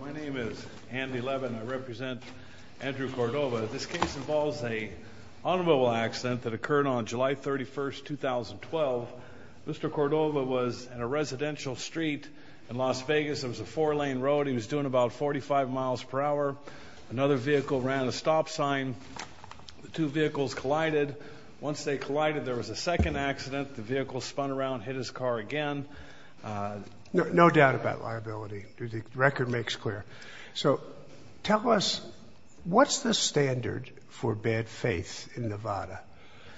My name is Andy Levin. I represent Andrew Cordova. This case involves an automobile accident that occurred on July 31, 2012. Mr. Cordova was in a residential street in Las Vegas. It was a four-lane road. He was doing about 45 mph. Another vehicle ran a stop sign. The two vehicles collided. Once they collided, there was a second accident. The vehicle spun around and hit his car again. No doubt about liability. The record makes clear. So, tell us, what's the standard for bad faith in Nevada?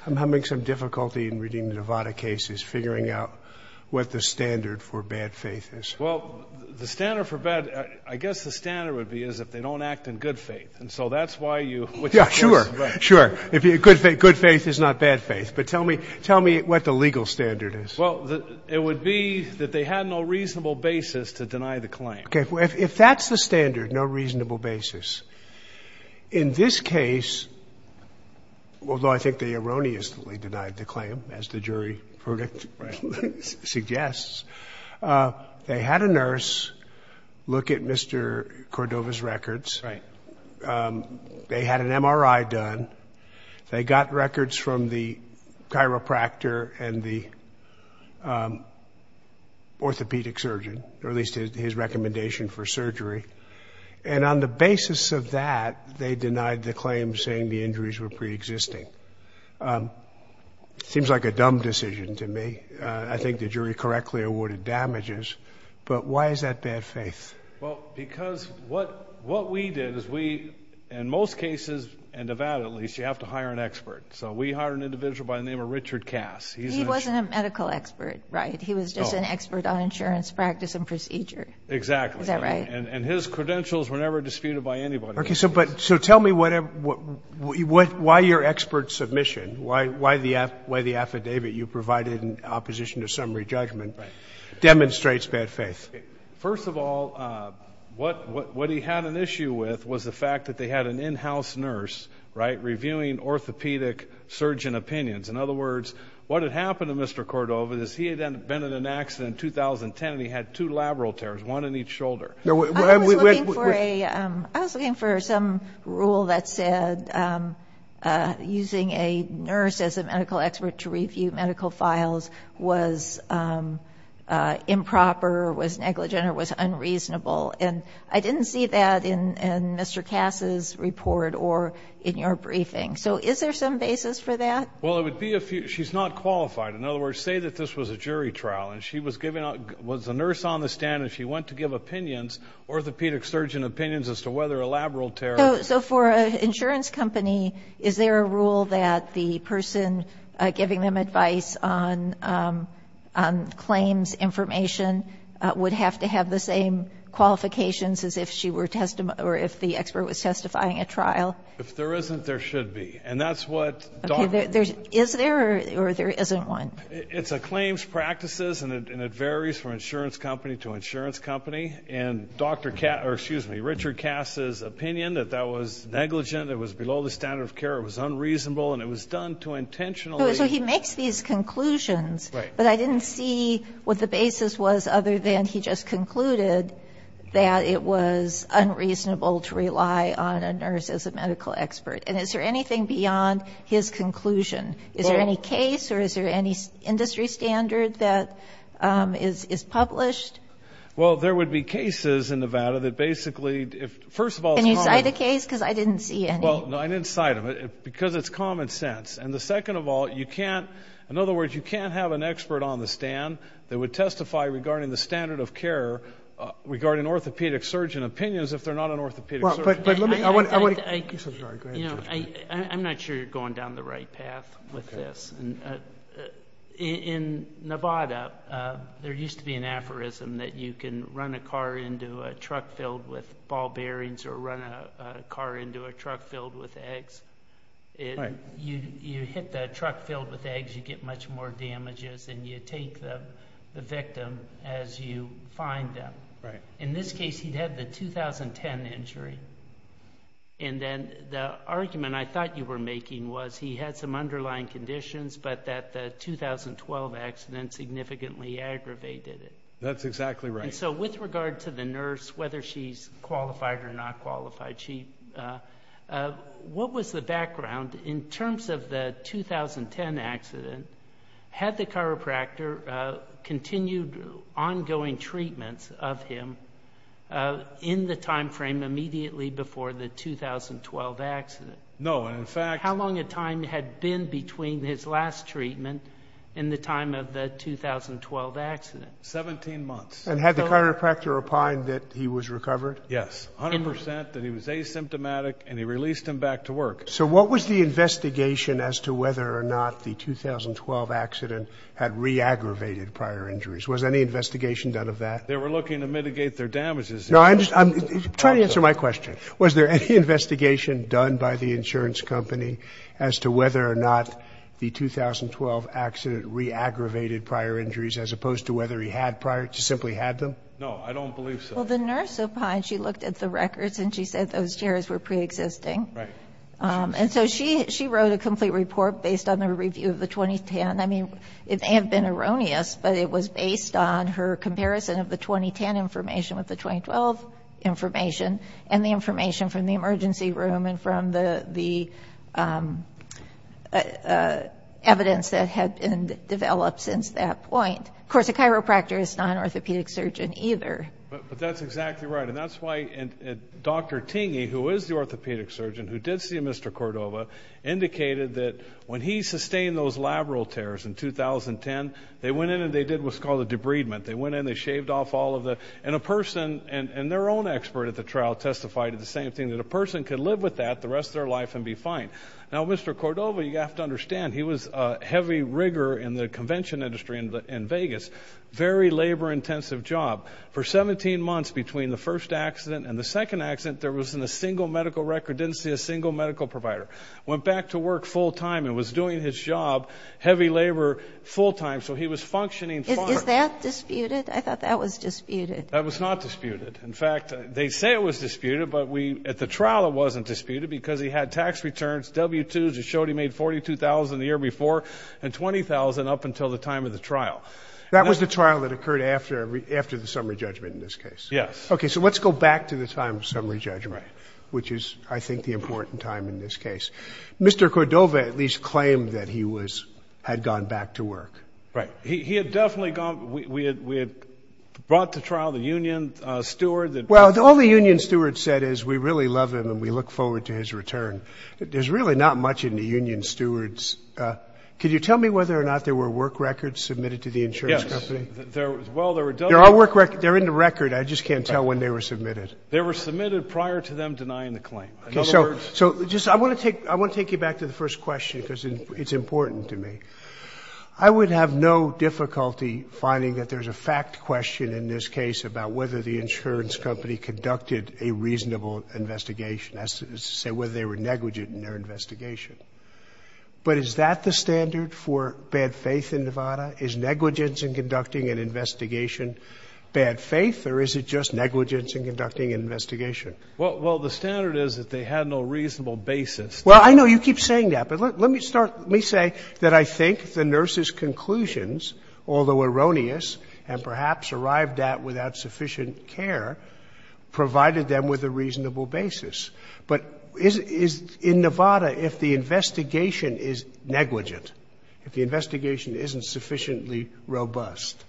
I'm having some difficulty in reading the Nevada cases, figuring out what the standard for bad faith is. Well, the standard for bad, I guess the standard would be is if they don't act in good faith. And so that's why you... Yeah, sure, sure. Good faith is not bad faith. But tell me, tell me what the legal standard is. Well, it would be that they had no reasonable basis to deny the claim. Okay. If that's the standard, no reasonable basis. In this case, although I think they erroneously denied the claim, as the jury verdict suggests, they had a nurse look at Mr. Cordova's records. Right. They had an MRI done. They got records from the chiropractor and the orthopedic surgeon, or at least his recommendation for surgery. And on the basis of that, they denied the claim, saying the injuries were preexisting. Seems like a dumb decision to me. I think the jury correctly awarded damages. But why is that bad faith? Well, because what we did is we, in most cases, in Nevada at least, you have to hire an expert. So we hired an individual by the name of Richard Cass. He wasn't a medical expert, right? He was just an expert on insurance practice and procedure. Exactly. Is that right? And his credentials were never disputed by anybody. Okay. So tell me why your expert submission, why the affidavit you provided in opposition to summary judgment, demonstrates bad faith. First of all, what he had an issue with was the fact that they had an in-house nurse, right, reviewing orthopedic surgeon opinions. In other words, what had happened to Mr. Cordova is he had been in an accident in 2010, and he had two labral tears, one in each shoulder. I was looking for some rule that said using a nurse as a medical expert to review medical files was improper, was negligent, or was unreasonable. And I didn't see that in Mr. Cass's report or in your briefing. So is there some basis for that? Well, it would be if she's not qualified. In other words, say that this was a jury trial, and she was a nurse on the stand, and she went to give opinions, orthopedic surgeon opinions, as to whether a labral tear or not. So for an insurance company, is there a rule that the person giving them advice on claims information would have to have the same qualifications as if the expert was testifying at trial? If there isn't, there should be. And that's what Dr. — Okay, is there or there isn't one? It's a claims practices, and it varies from insurance company to insurance company. And Richard Cass's opinion that that was negligent, it was below the standard of care, it was unreasonable, and it was done too intentionally. So he makes these conclusions, but I didn't see what the basis was other than he just concluded that it was unreasonable to rely on a nurse as a medical expert. And is there anything beyond his conclusion? Is there any case or is there any industry standard that is published? Well, there would be cases in Nevada that basically — Can you cite a case? Because I didn't see any. Well, no, I didn't cite them because it's common sense. And the second of all, you can't — in other words, you can't have an expert on the stand that would testify regarding the standard of care regarding orthopedic surgeon opinions if they're not an orthopedic surgeon. I'm not sure you're going down the right path with this. In Nevada, there used to be an aphorism that you can run a car into a truck filled with ball bearings or run a car into a truck filled with eggs. You hit the truck filled with eggs, you get much more damages, and you take the victim as you find them. In this case, he'd had the 2010 injury. And then the argument I thought you were making was he had some underlying conditions but that the 2012 accident significantly aggravated it. That's exactly right. And so with regard to the nurse, whether she's qualified or not qualified, what was the background in terms of the 2010 accident? Had the chiropractor continued ongoing treatments of him in the timeframe immediately before the 2012 accident? No, and in fact — How long a time had been between his last treatment and the time of the 2012 accident? Seventeen months. And had the chiropractor replied that he was recovered? Yes, 100 percent, that he was asymptomatic, and he released him back to work. So what was the investigation as to whether or not the 2012 accident had re-aggravated prior injuries? Was any investigation done of that? They were looking to mitigate their damages. No, I'm trying to answer my question. Was there any investigation done by the insurance company as to whether or not the 2012 accident re-aggravated prior injuries as opposed to whether he simply had them? No, I don't believe so. Well, the nurse up high, she looked at the records, and she said those tears were preexisting. Right. And so she wrote a complete report based on the review of the 2010. I mean, it may have been erroneous, but it was based on her comparison of the 2010 information with the 2012 information and the information from the emergency room and from the evidence that had been developed since that point. Of course, a chiropractor is not an orthopedic surgeon either. But that's exactly right, and that's why Dr. Tingey, who is the orthopedic surgeon, who did see Mr. Cordova, indicated that when he sustained those labral tears in 2010, they went in and they did what's called a debridement. They went in, they shaved off all of the – and a person and their own expert at the trial testified to the same thing, that a person could live with that the rest of their life and be fine. Now, Mr. Cordova, you have to understand, he was a heavy rigger in the convention industry in Vegas, very labor-intensive job. For 17 months between the first accident and the second accident, there wasn't a single medical record, didn't see a single medical provider. Went back to work full time and was doing his job, heavy labor, full time. So he was functioning fine. Is that disputed? I thought that was disputed. That was not disputed. In fact, they say it was disputed, but at the trial it wasn't disputed because he had tax returns, W-2s. It showed he made $42,000 the year before and $20,000 up until the time of the trial. That was the trial that occurred after the summary judgment in this case? Yes. Okay, so let's go back to the time of summary judgment, which is, I think, the important time in this case. Mr. Cordova at least claimed that he was – had gone back to work. Right. He had definitely gone – we had brought to trial the union steward. Well, all the union steward said is we really love him and we look forward to his return. There's really not much in the union stewards. Could you tell me whether or not there were work records submitted to the insurance company? Yes. Well, there were – There are work records. They're in the record. I just can't tell when they were submitted. They were submitted prior to them denying the claim. In other words – Okay. So I want to take you back to the first question because it's important to me. I would have no difficulty finding that there's a fact question in this case about whether the insurance company conducted a reasonable investigation. That's to say whether they were negligent in their investigation. But is that the standard for bad faith in Nevada? Is negligence in conducting an investigation bad faith or is it just negligence in conducting an investigation? Well, the standard is that they had no reasonable basis. Well, I know you keep saying that, but let me start – let me say that I think the provided them with a reasonable basis. But is – in Nevada, if the investigation is negligent, if the investigation isn't sufficiently robust,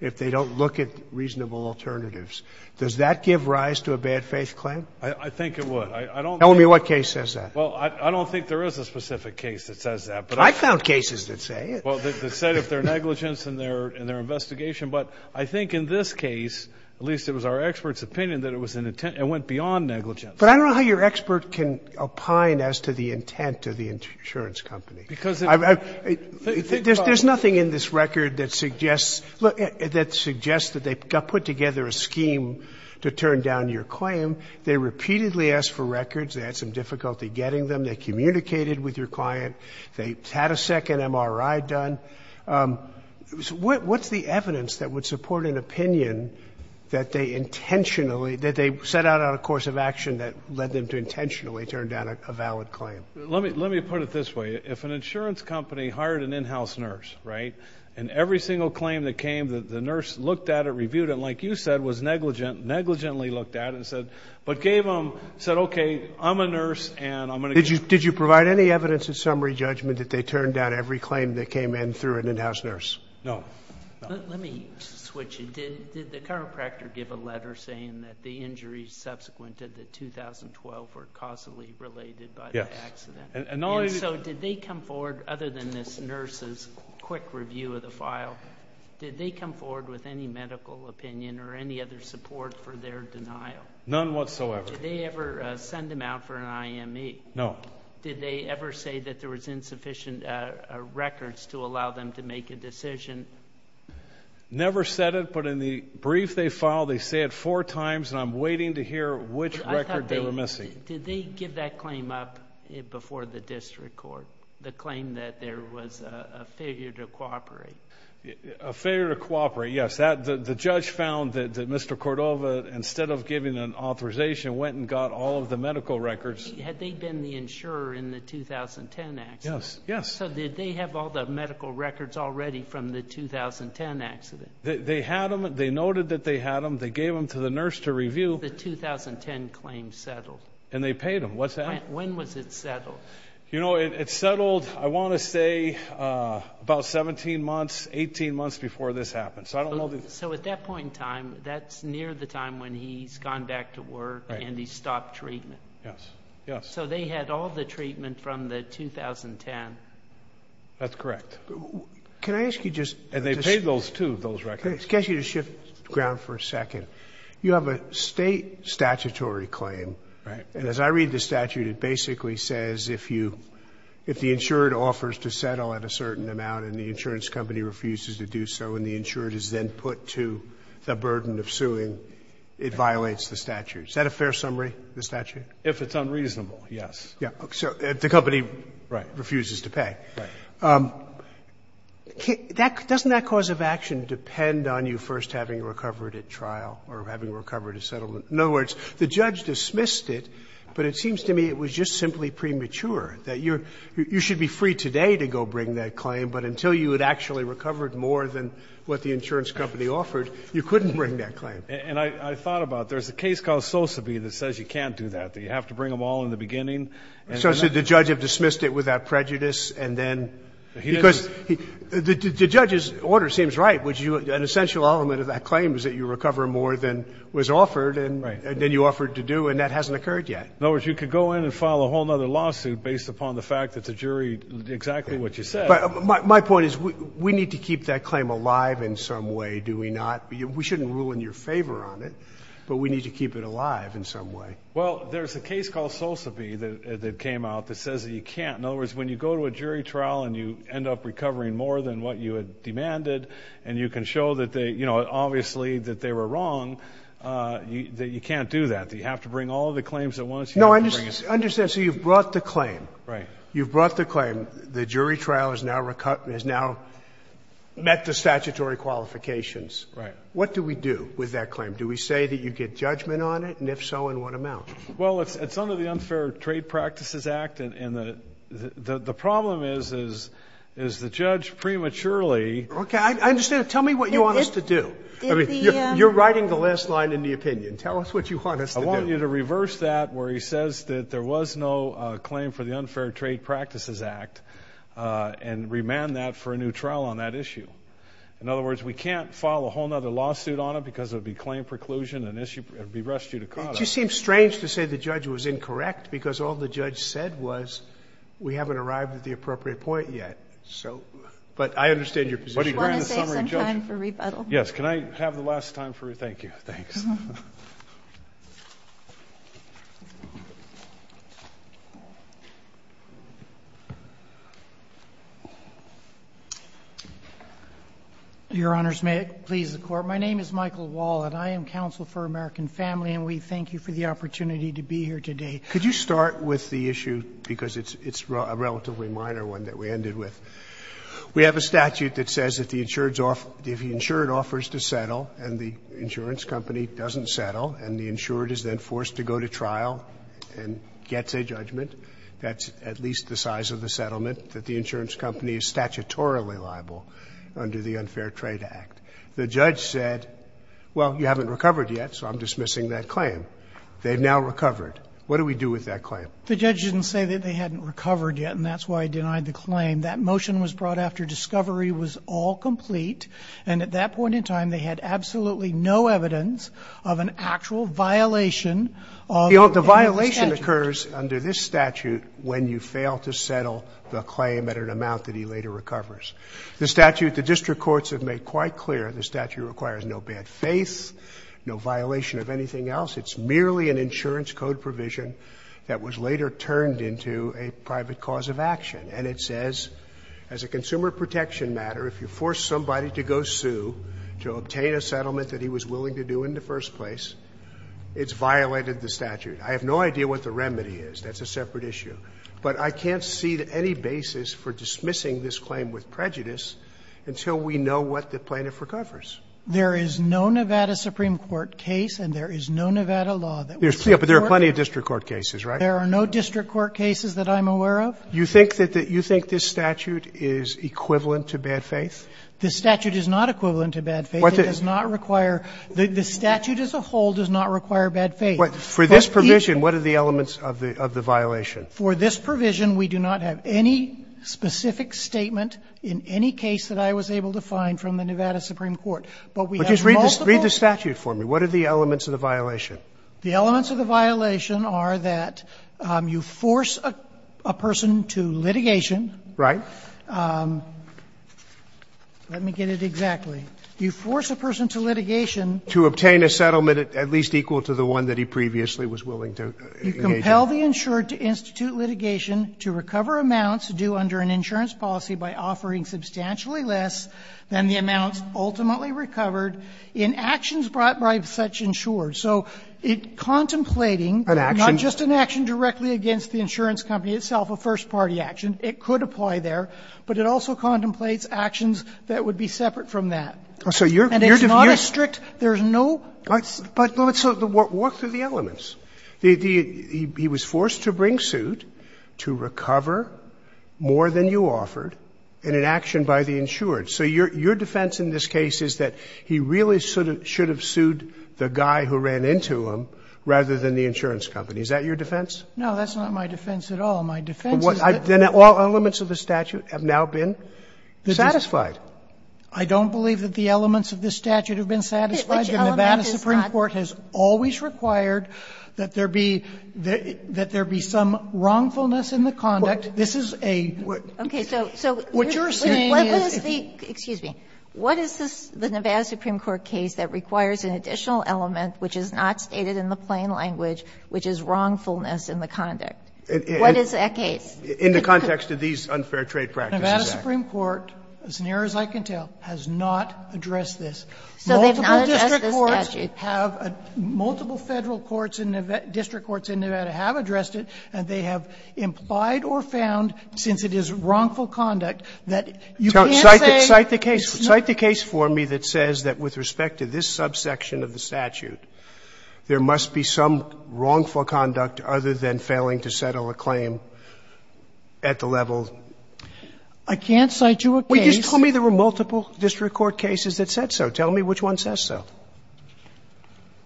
if they don't look at reasonable alternatives, does that give rise to a bad faith claim? I think it would. I don't think – Tell me what case says that. Well, I don't think there is a specific case that says that, but I – I found cases that say it. Well, that said if they're negligence in their investigation. But I think in this case, at least it was our expert's opinion, that it was an – it went beyond negligence. But I don't know how your expert can opine as to the intent of the insurance company. Because – There's nothing in this record that suggests – that suggests that they put together a scheme to turn down your claim. They repeatedly asked for records. They had some difficulty getting them. They communicated with your client. They had a second MRI done. What's the evidence that would support an opinion that they intentionally – that they set out on a course of action that led them to intentionally turn down a valid claim? Let me put it this way. If an insurance company hired an in-house nurse, right, and every single claim that came, the nurse looked at it, reviewed it, and like you said, was negligent, negligently looked at it and said – but gave them – said, okay, I'm a nurse, and I'm going to – Did you provide any evidence in summary judgment that they turned down every claim that came in through an in-house nurse? No. Let me switch it. Did the chiropractor give a letter saying that the injuries subsequent to the 2012 were causally related by the accident? Yes. And not only – And so did they come forward, other than this nurse's quick review of the file, did they come forward with any medical opinion or any other support for their denial? None whatsoever. Did they ever send them out for an IME? No. Did they ever say that there was insufficient records to allow them to make a decision? Never said it, but in the brief they filed, they say it four times, and I'm waiting to hear which record they were missing. Did they give that claim up before the district court, the claim that there was a failure to cooperate? A failure to cooperate, yes. The judge found that Mr. Cordova, instead of giving an authorization, went and got all of the medical records. Had they been the insurer in the 2010 accident? Yes, yes. So did they have all the medical records already from the 2010 accident? They had them. They noted that they had them. They gave them to the nurse to review. The 2010 claim settled. And they paid them. What's that? When was it settled? You know, it settled, I want to say, about 17 months, 18 months before this happened. So at that point in time, that's near the time when he's gone back to work and he's stopped treatment. Yes, yes. So they had all the treatment from the 2010. That's correct. Can I ask you just to shift ground for a second? You have a State statutory claim. Right. And as I read the statute, it basically says if the insurer offers to settle at a certain amount and the insurance company refuses to do so and the insurer is then put to the burden of suing, it violates the statute. Is that a fair summary, the statute? If it's unreasonable, yes. So the company refuses to pay. Right. Doesn't that cause of action depend on you first having recovered at trial or having recovered a settlement? In other words, the judge dismissed it, but it seems to me it was just simply premature, that you should be free today to go bring that claim, but until you had actually recovered more than what the insurance company offered, you couldn't bring that claim. And I thought about it. There's a case called Sosebee that says you can't do that, that you have to bring them all in the beginning. So the judge dismissed it with that prejudice and then because the judge's order seems right, which an essential element of that claim is that you recover more than was offered and then you offered to do and that hasn't occurred yet. In other words, you could go in and file a whole other lawsuit based upon the fact that the jury did exactly what you said. But my point is we need to keep that claim alive in some way, do we not? We shouldn't rule in your favor on it, but we need to keep it alive in some way. Well, there's a case called Sosebee that came out that says that you can't. In other words, when you go to a jury trial and you end up recovering more than what you had demanded and you can show that they, you know, obviously that they were wrong, that you can't do that, that you have to bring all the claims at once. No, I understand. So you've brought the claim. Right. You've brought the claim. The jury trial has now met the statutory qualifications. Right. What do we do with that claim? Do we say that you get judgment on it? And if so, in what amount? Well, it's under the Unfair Trade Practices Act. And the problem is, is the judge prematurely. Okay, I understand. Tell me what you want us to do. You're writing the last line in the opinion. Tell us what you want us to do. I want you to reverse that where he says that there was no claim for the Unfair Trade Practices Act and remand that for a new trial on that issue. In other words, we can't file a whole other lawsuit on it because it would be claim preclusion and it would be restitutorial. It just seems strange to say the judge was incorrect because all the judge said was we haven't arrived at the appropriate point yet. So, but I understand your position. Do you want to save some time for rebuttal? Yes. Can I have the last time for a thank you? Thanks. Your Honors, may it please the Court. My name is Michael Wall and I am counsel for American Family and we thank you for the opportunity to be here today. Could you start with the issue, because it's a relatively minor one that we ended with. We have a statute that says if the insured offers to settle and the insurance company doesn't settle and the insured is then forced to go to trial and gets a judgment that's at least the size of the settlement, that the insurance company is statutorily liable under the Unfair Trade Act. The judge said, well, you haven't recovered yet, so I'm dismissing that claim. They've now recovered. What do we do with that claim? The judge didn't say that they hadn't recovered yet and that's why he denied the claim. That motion was brought after discovery was all complete and at that point in time they had absolutely no evidence of an actual violation of the statute. The violation occurs under this statute when you fail to settle the claim at an amount that he later recovers. The statute, the district courts have made quite clear the statute requires no bad faith, no violation of anything else. It's merely an insurance code provision that was later turned into a private cause of action. And it says as a consumer protection matter, if you force somebody to go sue to obtain a settlement that he was willing to do in the first place, it's violated the statute. I have no idea what the remedy is. That's a separate issue. But I can't see any basis for dismissing this claim with prejudice until we know what the plaintiff recovers. There is no Nevada Supreme Court case and there is no Nevada law that would support it. There are plenty of district court cases, right? There are no district court cases that I'm aware of. You think that this statute is equivalent to bad faith? The statute is not equivalent to bad faith. It does not require the statute as a whole does not require bad faith. For this provision, what are the elements of the violation? For this provision, we do not have any specific statement in any case that I was able to find from the Nevada Supreme Court, but we have multiple. But just read the statute for me. What are the elements of the violation? The elements of the violation are that you force a person to litigation. Right. Let me get it exactly. You force a person to litigation. To obtain a settlement at least equal to the one that he previously was willing to engage in. You compel the insured to institute litigation to recover amounts due under an insurance policy by offering substantially less than the amounts ultimately recovered in actions brought by such insured. So it contemplating an action, not just an action directly against the insurance company itself, a first-party action, it could apply there, but it also contemplates actions that would be separate from that. And it's not a strict, there's no, but let's work through the elements. He was forced to bring suit to recover more than you offered in an action by the insured. So your defense in this case is that he really should have sued the guy who ran into him rather than the insurance company. Is that your defense? No, that's not my defense at all. My defense is that. Then all elements of the statute have now been satisfied. I don't believe that the elements of the statute have been satisfied. The Nevada Supreme Court has always required that there be, that there be some wrongfulness in the conduct. This is a, what you're saying is. What is the, excuse me, what is this, the Nevada Supreme Court case that requires an additional element which is not stated in the plain language, which is wrongfulness in the conduct? What is that case? In the context of these unfair trade practices. Nevada Supreme Court, as near as I can tell, has not addressed this. Multiple district courts have, multiple Federal courts and district courts in Nevada have addressed it, and they have implied or found, since it is wrongful conduct, that you can't say. Cite the case. Cite the case for me that says that with respect to this subsection of the statute, there must be some wrongful conduct other than failing to settle a claim at the level. I can't cite you a case. Well, you just told me there were multiple district court cases that said so. Tell me which one says so.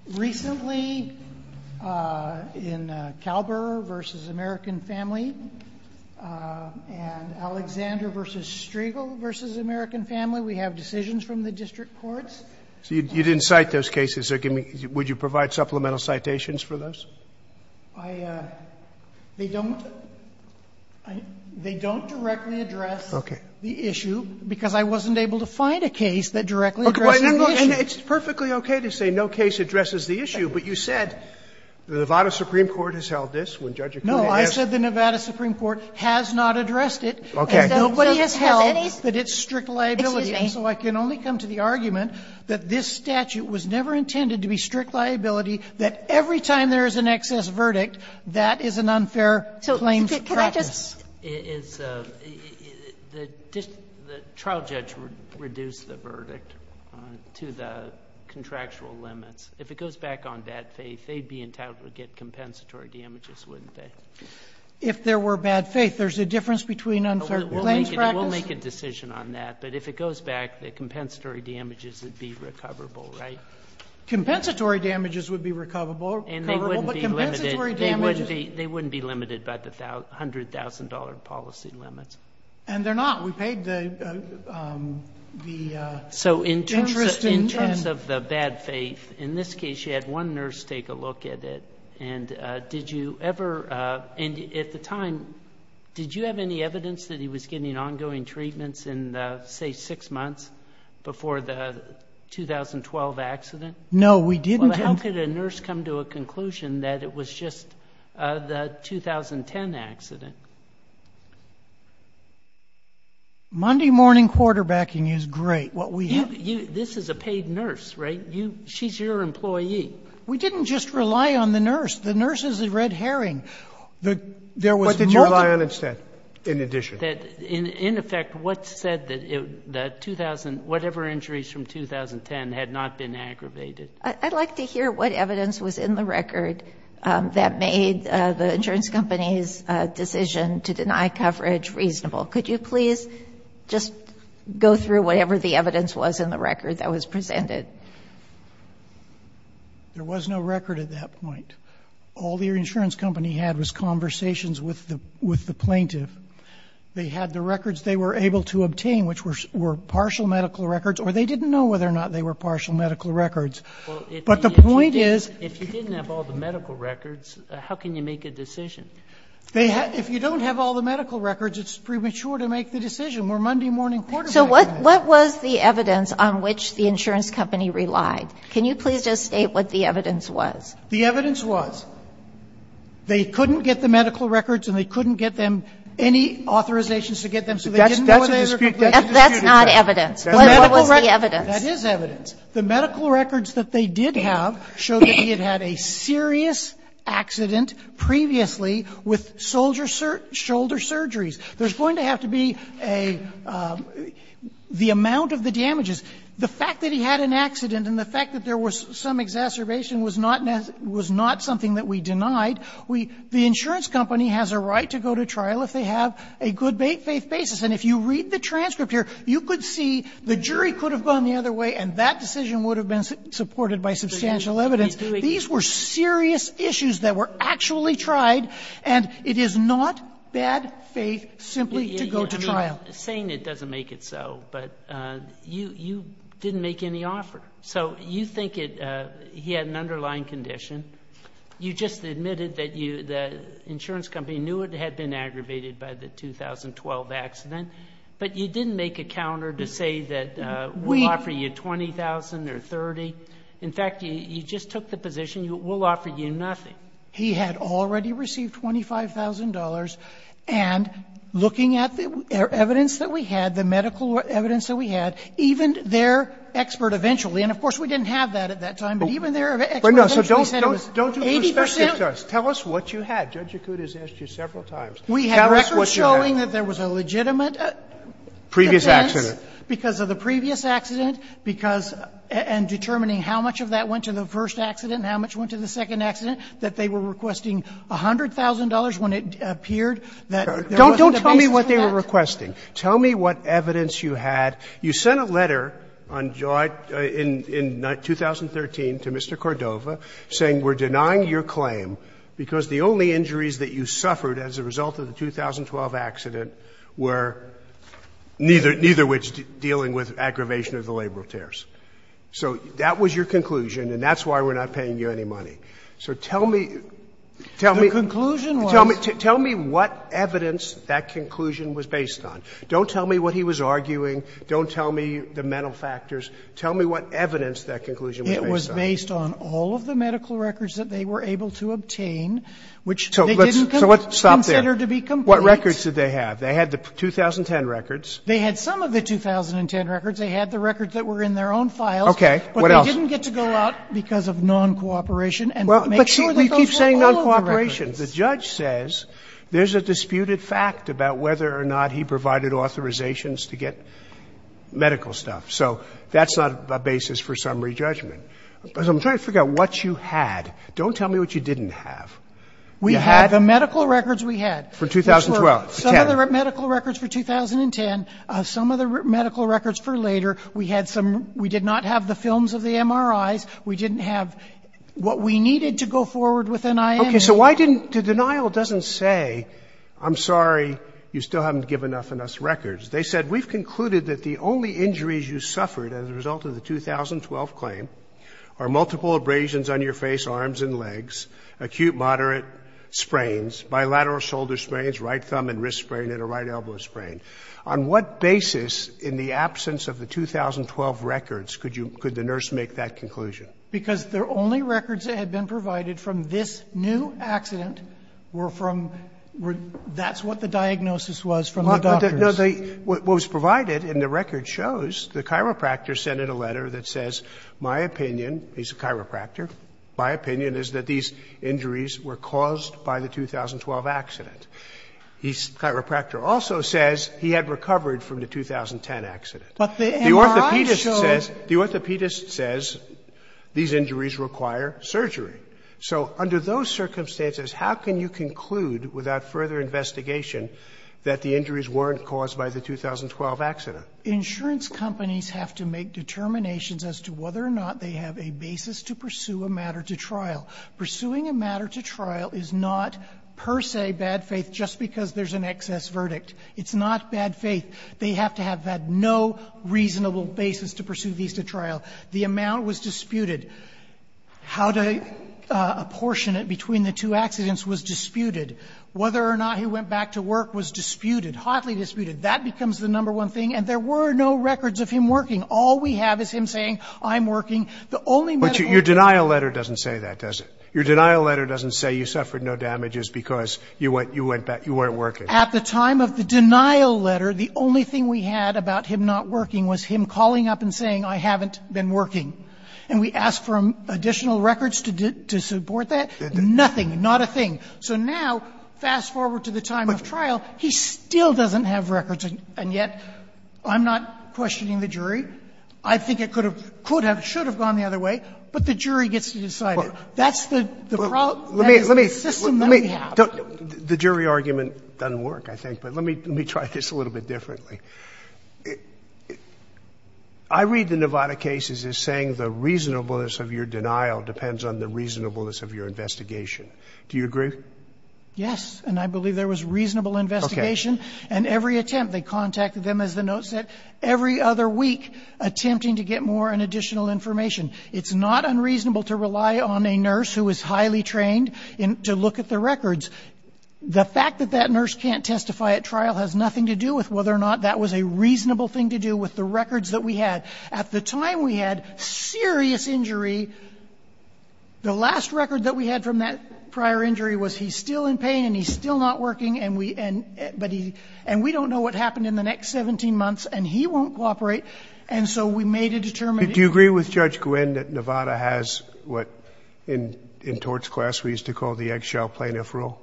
Recently, in Kalber v. American Family and Alexander v. Striegel v. American Family, we have decisions from the district courts. So you didn't cite those cases. Would you provide supplemental citations for those? I don't. They don't directly address the issue because I wasn't able to find a case that directly addressed the issue. And it's perfectly okay to say no case addresses the issue, but you said the Nevada Supreme Court has held this when Judge Acuti has. No, I said the Nevada Supreme Court has not addressed it, and nobody has held that it's strict liability. So I can only come to the argument that this statute was never intended to be strict liability, that every time there is an excess verdict, that is an unfair claims practice. So could I just the trial judge reduced the verdict to the contractual limits. If it goes back on bad faith, they'd be entitled to get compensatory damages, wouldn't they? If there were bad faith, there's a difference between unfair claims practice? We'll make a decision on that, but if it goes back, the compensatory damages would be recoverable, right? Compensatory damages would be recoverable, but compensatory damages? They wouldn't be limited by the $100,000 policy limits. And they're not. We paid the interest in 10. So in terms of the bad faith, in this case, you had one nurse take a look at it. And did you ever, at the time, did you have any evidence that he was getting No, we didn't. Well, how could a nurse come to a conclusion that it was just the 2010 accident? Monday morning quarterbacking is great. This is a paid nurse, right? She's your employee. We didn't just rely on the nurse. The nurse is a red herring. What did you rely on instead, in addition? In effect, what said that whatever injuries from 2010 had not been aggravated? I'd like to hear what evidence was in the record that made the insurance company's decision to deny coverage reasonable. Could you please just go through whatever the evidence was in the record that was presented? There was no record at that point. All the insurance company had was conversations with the plaintiff. They had the records they were able to obtain, which were partial medical records, or they didn't know whether or not they were partial medical records. But the point is, if you didn't have all the medical records, how can you make a decision? If you don't have all the medical records, it's premature to make the decision. We're Monday morning quarterbacking. So what was the evidence on which the insurance company relied? Can you please just state what the evidence was? The evidence was they couldn't get the medical records and they couldn't get them any authorizations to get them, so they didn't know whether they were completely disputed. That's not evidence. What was the evidence? That is evidence. The medical records that they did have showed that he had had a serious accident previously with shoulder surgeries. There's going to have to be a the amount of the damages. The fact that he had an accident and the fact that there was some exacerbation was not something that we denied. The insurance company has a right to go to trial if they have a good faith basis. And if you read the transcript here, you could see the jury could have gone the other way and that decision would have been supported by substantial evidence. These were serious issues that were actually tried, and it is not bad faith simply to go to trial. Saying it doesn't make it so, but you didn't make any offer. So you think he had an underlying condition. You just admitted that the insurance company knew it had been aggravated by the 2012 accident, but you didn't make a counter to say that we offer you $20,000 or $30,000. In fact, you just took the position, we'll offer you nothing. He had already received $25,000, and looking at the evidence that we had, the medical evidence that we had, even their expert eventually, and of course we didn't have that at that time, but even their expert eventually said it was 80% Tell us what you had. Judge Yakut has asked you several times. We have records showing that there was a legitimate Previous accident. Because of the previous accident, because and determining how much of that went to the first accident and how much went to the second accident, that they were requesting $100,000 when it appeared that there wasn't a basis for that. Don't tell me what they were requesting. Tell me what evidence you had. You sent a letter on July 2013 to Mr. Cordova saying we're denying your claim because the only injuries that you suffered as a result of the 2012 accident were neither of which dealing with aggravation of the labor of tears. So that was your conclusion, and that's why we're not paying you any money. So tell me, tell me, tell me what evidence that conclusion was based on. Don't tell me what he was arguing. Don't tell me the mental factors. Tell me what evidence that conclusion was based on. It was based on all of the medical records that they were able to obtain, which they didn't consider to be complete. So let's stop there. What records did they have? They had the 2010 records. They had some of the 2010 records. They had the records that were in their own files. Roberts. But they didn't get to go out because of non-cooperation and make sure that those were all of the records. Sotomayor The judge says there's a disputed fact about whether or not he provided authorizations to get medical stuff. So that's not a basis for summary judgment. So I'm trying to figure out what you had. Don't tell me what you didn't have. You had the medical records we had. Some of the medical records for 2010, some of the medical records for later. We had some, we did not have the films of the MRIs. We didn't have what we needed to go forward with NIN. Okay, so why didn't, the denial doesn't say, I'm sorry, you still haven't given enough of us records. They said, we've concluded that the only injuries you suffered as a result of the 2012 claim are multiple abrasions on your face, arms, and legs, acute moderate sprains, bilateral shoulder sprains, right thumb and wrist sprain, and a right elbow sprain. On what basis in the absence of the 2012 records could you, could the nurse make that conclusion? Because their only records that had been provided from this new accident were from, that's what the diagnosis was from the doctors. No, they, what was provided in the record shows the chiropractor sent in a letter that says, my opinion, he's a chiropractor, my opinion is that these injuries were caused by the 2012 accident. He's, chiropractor also says he had recovered from the 2010 accident. But the MRI shows. The orthopedist says, the orthopedist says these injuries require surgery. So under those circumstances, how can you conclude without further investigation that the injuries weren't caused by the 2012 accident? Insurance companies have to make determinations as to whether or not they have a basis to pursue a matter to trial. Pursuing a matter to trial is not per se bad faith just because there's an excess verdict. It's not bad faith. They have to have had no reasonable basis to pursue these to trial. The amount was disputed. How to apportion it between the two accidents was disputed. Whether or not he went back to work was disputed, hotly disputed. That becomes the number one thing. And there were no records of him working. All we have is him saying, I'm working. The only medical. Your denial letter doesn't say that, does it? Your denial letter doesn't say you suffered no damages because you went back, you weren't working. At the time of the denial letter, the only thing we had about him not working was him calling up and saying, I haven't been working. And we asked for additional records to support that. Nothing, not a thing. So now, fast forward to the time of trial, he still doesn't have records. And yet, I'm not questioning the jury. I think it could have, could have, should have gone the other way. But the jury gets to decide it. That's the problem, that's the system that we have. The jury argument doesn't work, I think. But let me try this a little bit differently. I read the Nevada cases as saying the reasonableness of your denial depends on the reasonableness of your investigation. Do you agree? Yes, and I believe there was reasonable investigation. And every attempt, they contacted them as the note said. Every other week, attempting to get more and additional information. It's not unreasonable to rely on a nurse who is highly trained to look at the records. The fact that that nurse can't testify at trial has nothing to do with whether or not that was a reasonable thing to do with the records that we had. At the time we had serious injury, the last record that we had from that prior injury was he's still in pain, and he's still not working, and we, and, but he, and we don't know what happened in the next 17 months, and he won't cooperate. And so we made a determined- Did Judge Gwinn at Nevada has what in, in torts class we used to call the eggshell plaintiff rule?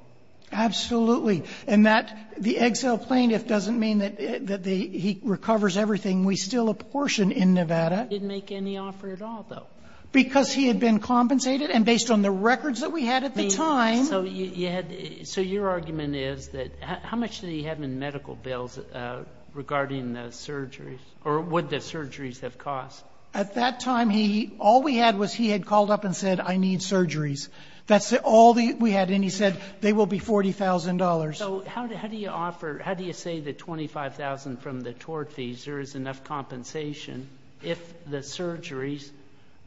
Absolutely. And that, the eggshell plaintiff doesn't mean that, that the, he recovers everything. We still apportion in Nevada. He didn't make any offer at all, though. Because he had been compensated, and based on the records that we had at the time. I mean, so you, you had, so your argument is that, how much did he have in medical bills regarding the surgeries? Or what the surgeries have cost? At that time, he, all we had was he had called up and said, I need surgeries. That's all the, we had, and he said, they will be $40,000. So, how do, how do you offer, how do you say the 25,000 from the tort fees, there is enough compensation if the surgeries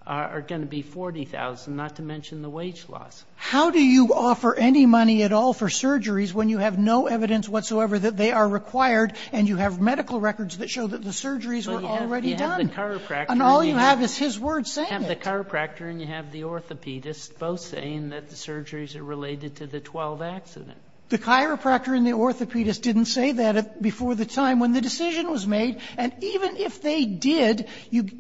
are going to be 40,000, not to mention the wage loss? How do you offer any money at all for surgeries when you have no evidence whatsoever that they are required, and you have medical records that show that the surgeries were already done? And all you have is his words saying it. The chiropractor and you have the orthopedist both saying that the surgeries are related to the 12 accidents. The chiropractor and the orthopedist didn't say that before the time when the decision was made. And even if they did,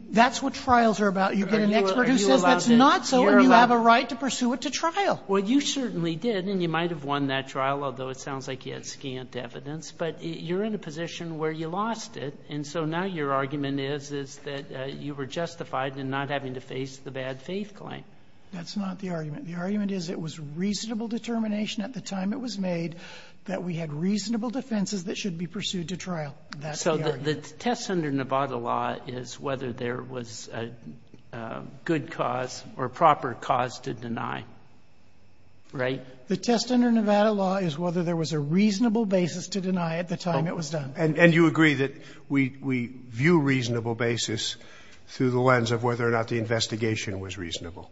that's what trials are about. You get an expert who says that's not so, and you have a right to pursue it to trial. Well, you certainly did, and you might have won that trial, although it sounds like you had scant evidence. But you're in a position where you lost it, and so now your argument is, is that you were justified in not having to face the bad faith claim. That's not the argument. The argument is it was reasonable determination at the time it was made that we had reasonable defenses that should be pursued to trial. That's the argument. So, the test under Nevada law is whether there was a good cause or proper cause to deny, right? The test under Nevada law is whether there was a reasonable basis to deny at the time it was done. And you agree that we view reasonable basis through the lens of whether or not the investigation was reasonable.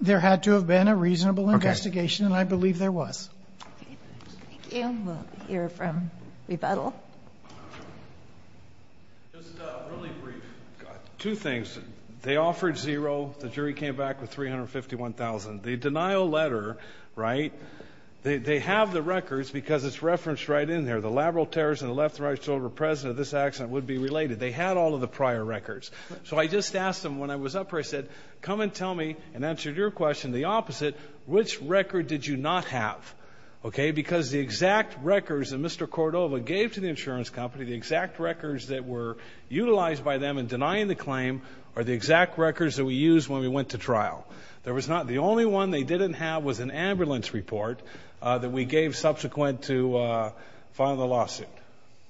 There had to have been a reasonable investigation, and I believe there was. Okay, thank you. We'll hear from rebuttal. Just really brief, two things. They offered zero, the jury came back with 351,000. The denial letter, right, they have the records because it's referenced right in there. The laboral terrorist and the left and right shoulder president of this accident would be related. They had all of the prior records. So, I just asked them when I was up here, I said, come and tell me, and answered your question the opposite, which record did you not have? Okay, because the exact records that Mr. Cordova gave to the insurance company, the exact records that were utilized by them in denying the claim are the exact records that we used when we went to trial. There was not, the only one they didn't have was an ambulance report that we gave subsequent to filing the lawsuit.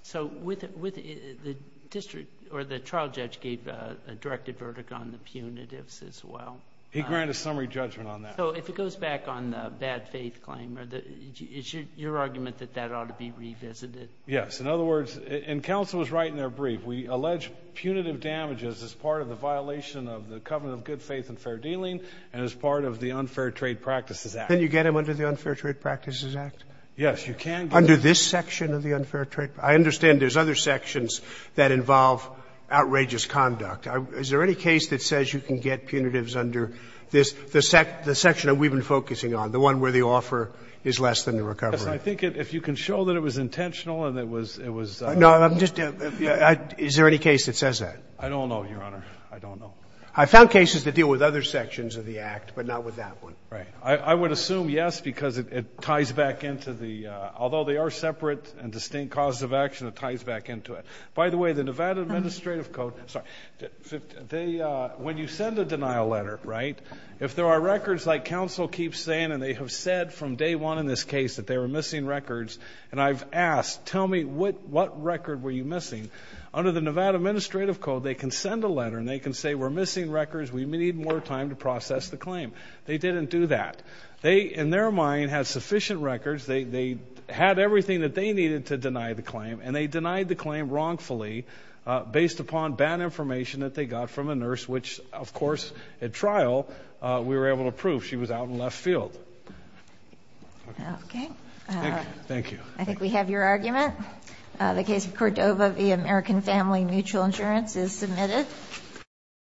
So, with the district, or the trial judge gave a directed verdict on the punitives as well. He granted summary judgment on that. So, if it goes back on the bad faith claim, is your argument that that ought to be revisited? Yes, in other words, and counsel was right in their brief. We allege punitive damages as part of the violation of the covenant of good faith and fair dealing and as part of the Unfair Trade Practices Act. Can you get them under the Unfair Trade Practices Act? Yes, you can. Under this section of the Unfair Trade, I understand there's other sections that involve outrageous conduct. Is there any case that says you can get punitives under this, the section that we've been focusing on, the one where the offer is less than the recovery? Yes, I think if you can show that it was intentional and it was. No, I'm just, is there any case that says that? I don't know, Your Honor. I don't know. I found cases that deal with other sections of the Act, but not with that one. Right. I would assume yes, because it ties back into the, although they are separate and distinct causes of action, it ties back into it. By the way, the Nevada Administrative Code, sorry, they, when you send a denial letter, right, if there are records like counsel keeps saying, and they have said from day one in this case that they were missing records, and I've asked, tell me, what record were you missing? Under the Nevada Administrative Code, they can send a letter and they can say, we're missing records, we need more time to process the claim. They didn't do that. They, in their mind, had sufficient records, they had everything that they needed to deny the claim, and they denied the claim wrongfully based upon bad information that they got from a nurse, which, of course, at trial, we were able to prove she was out in left field. Okay. Thank you. I think we have your argument. The case of Cordova v. American Family Mutual Insurance is submitted.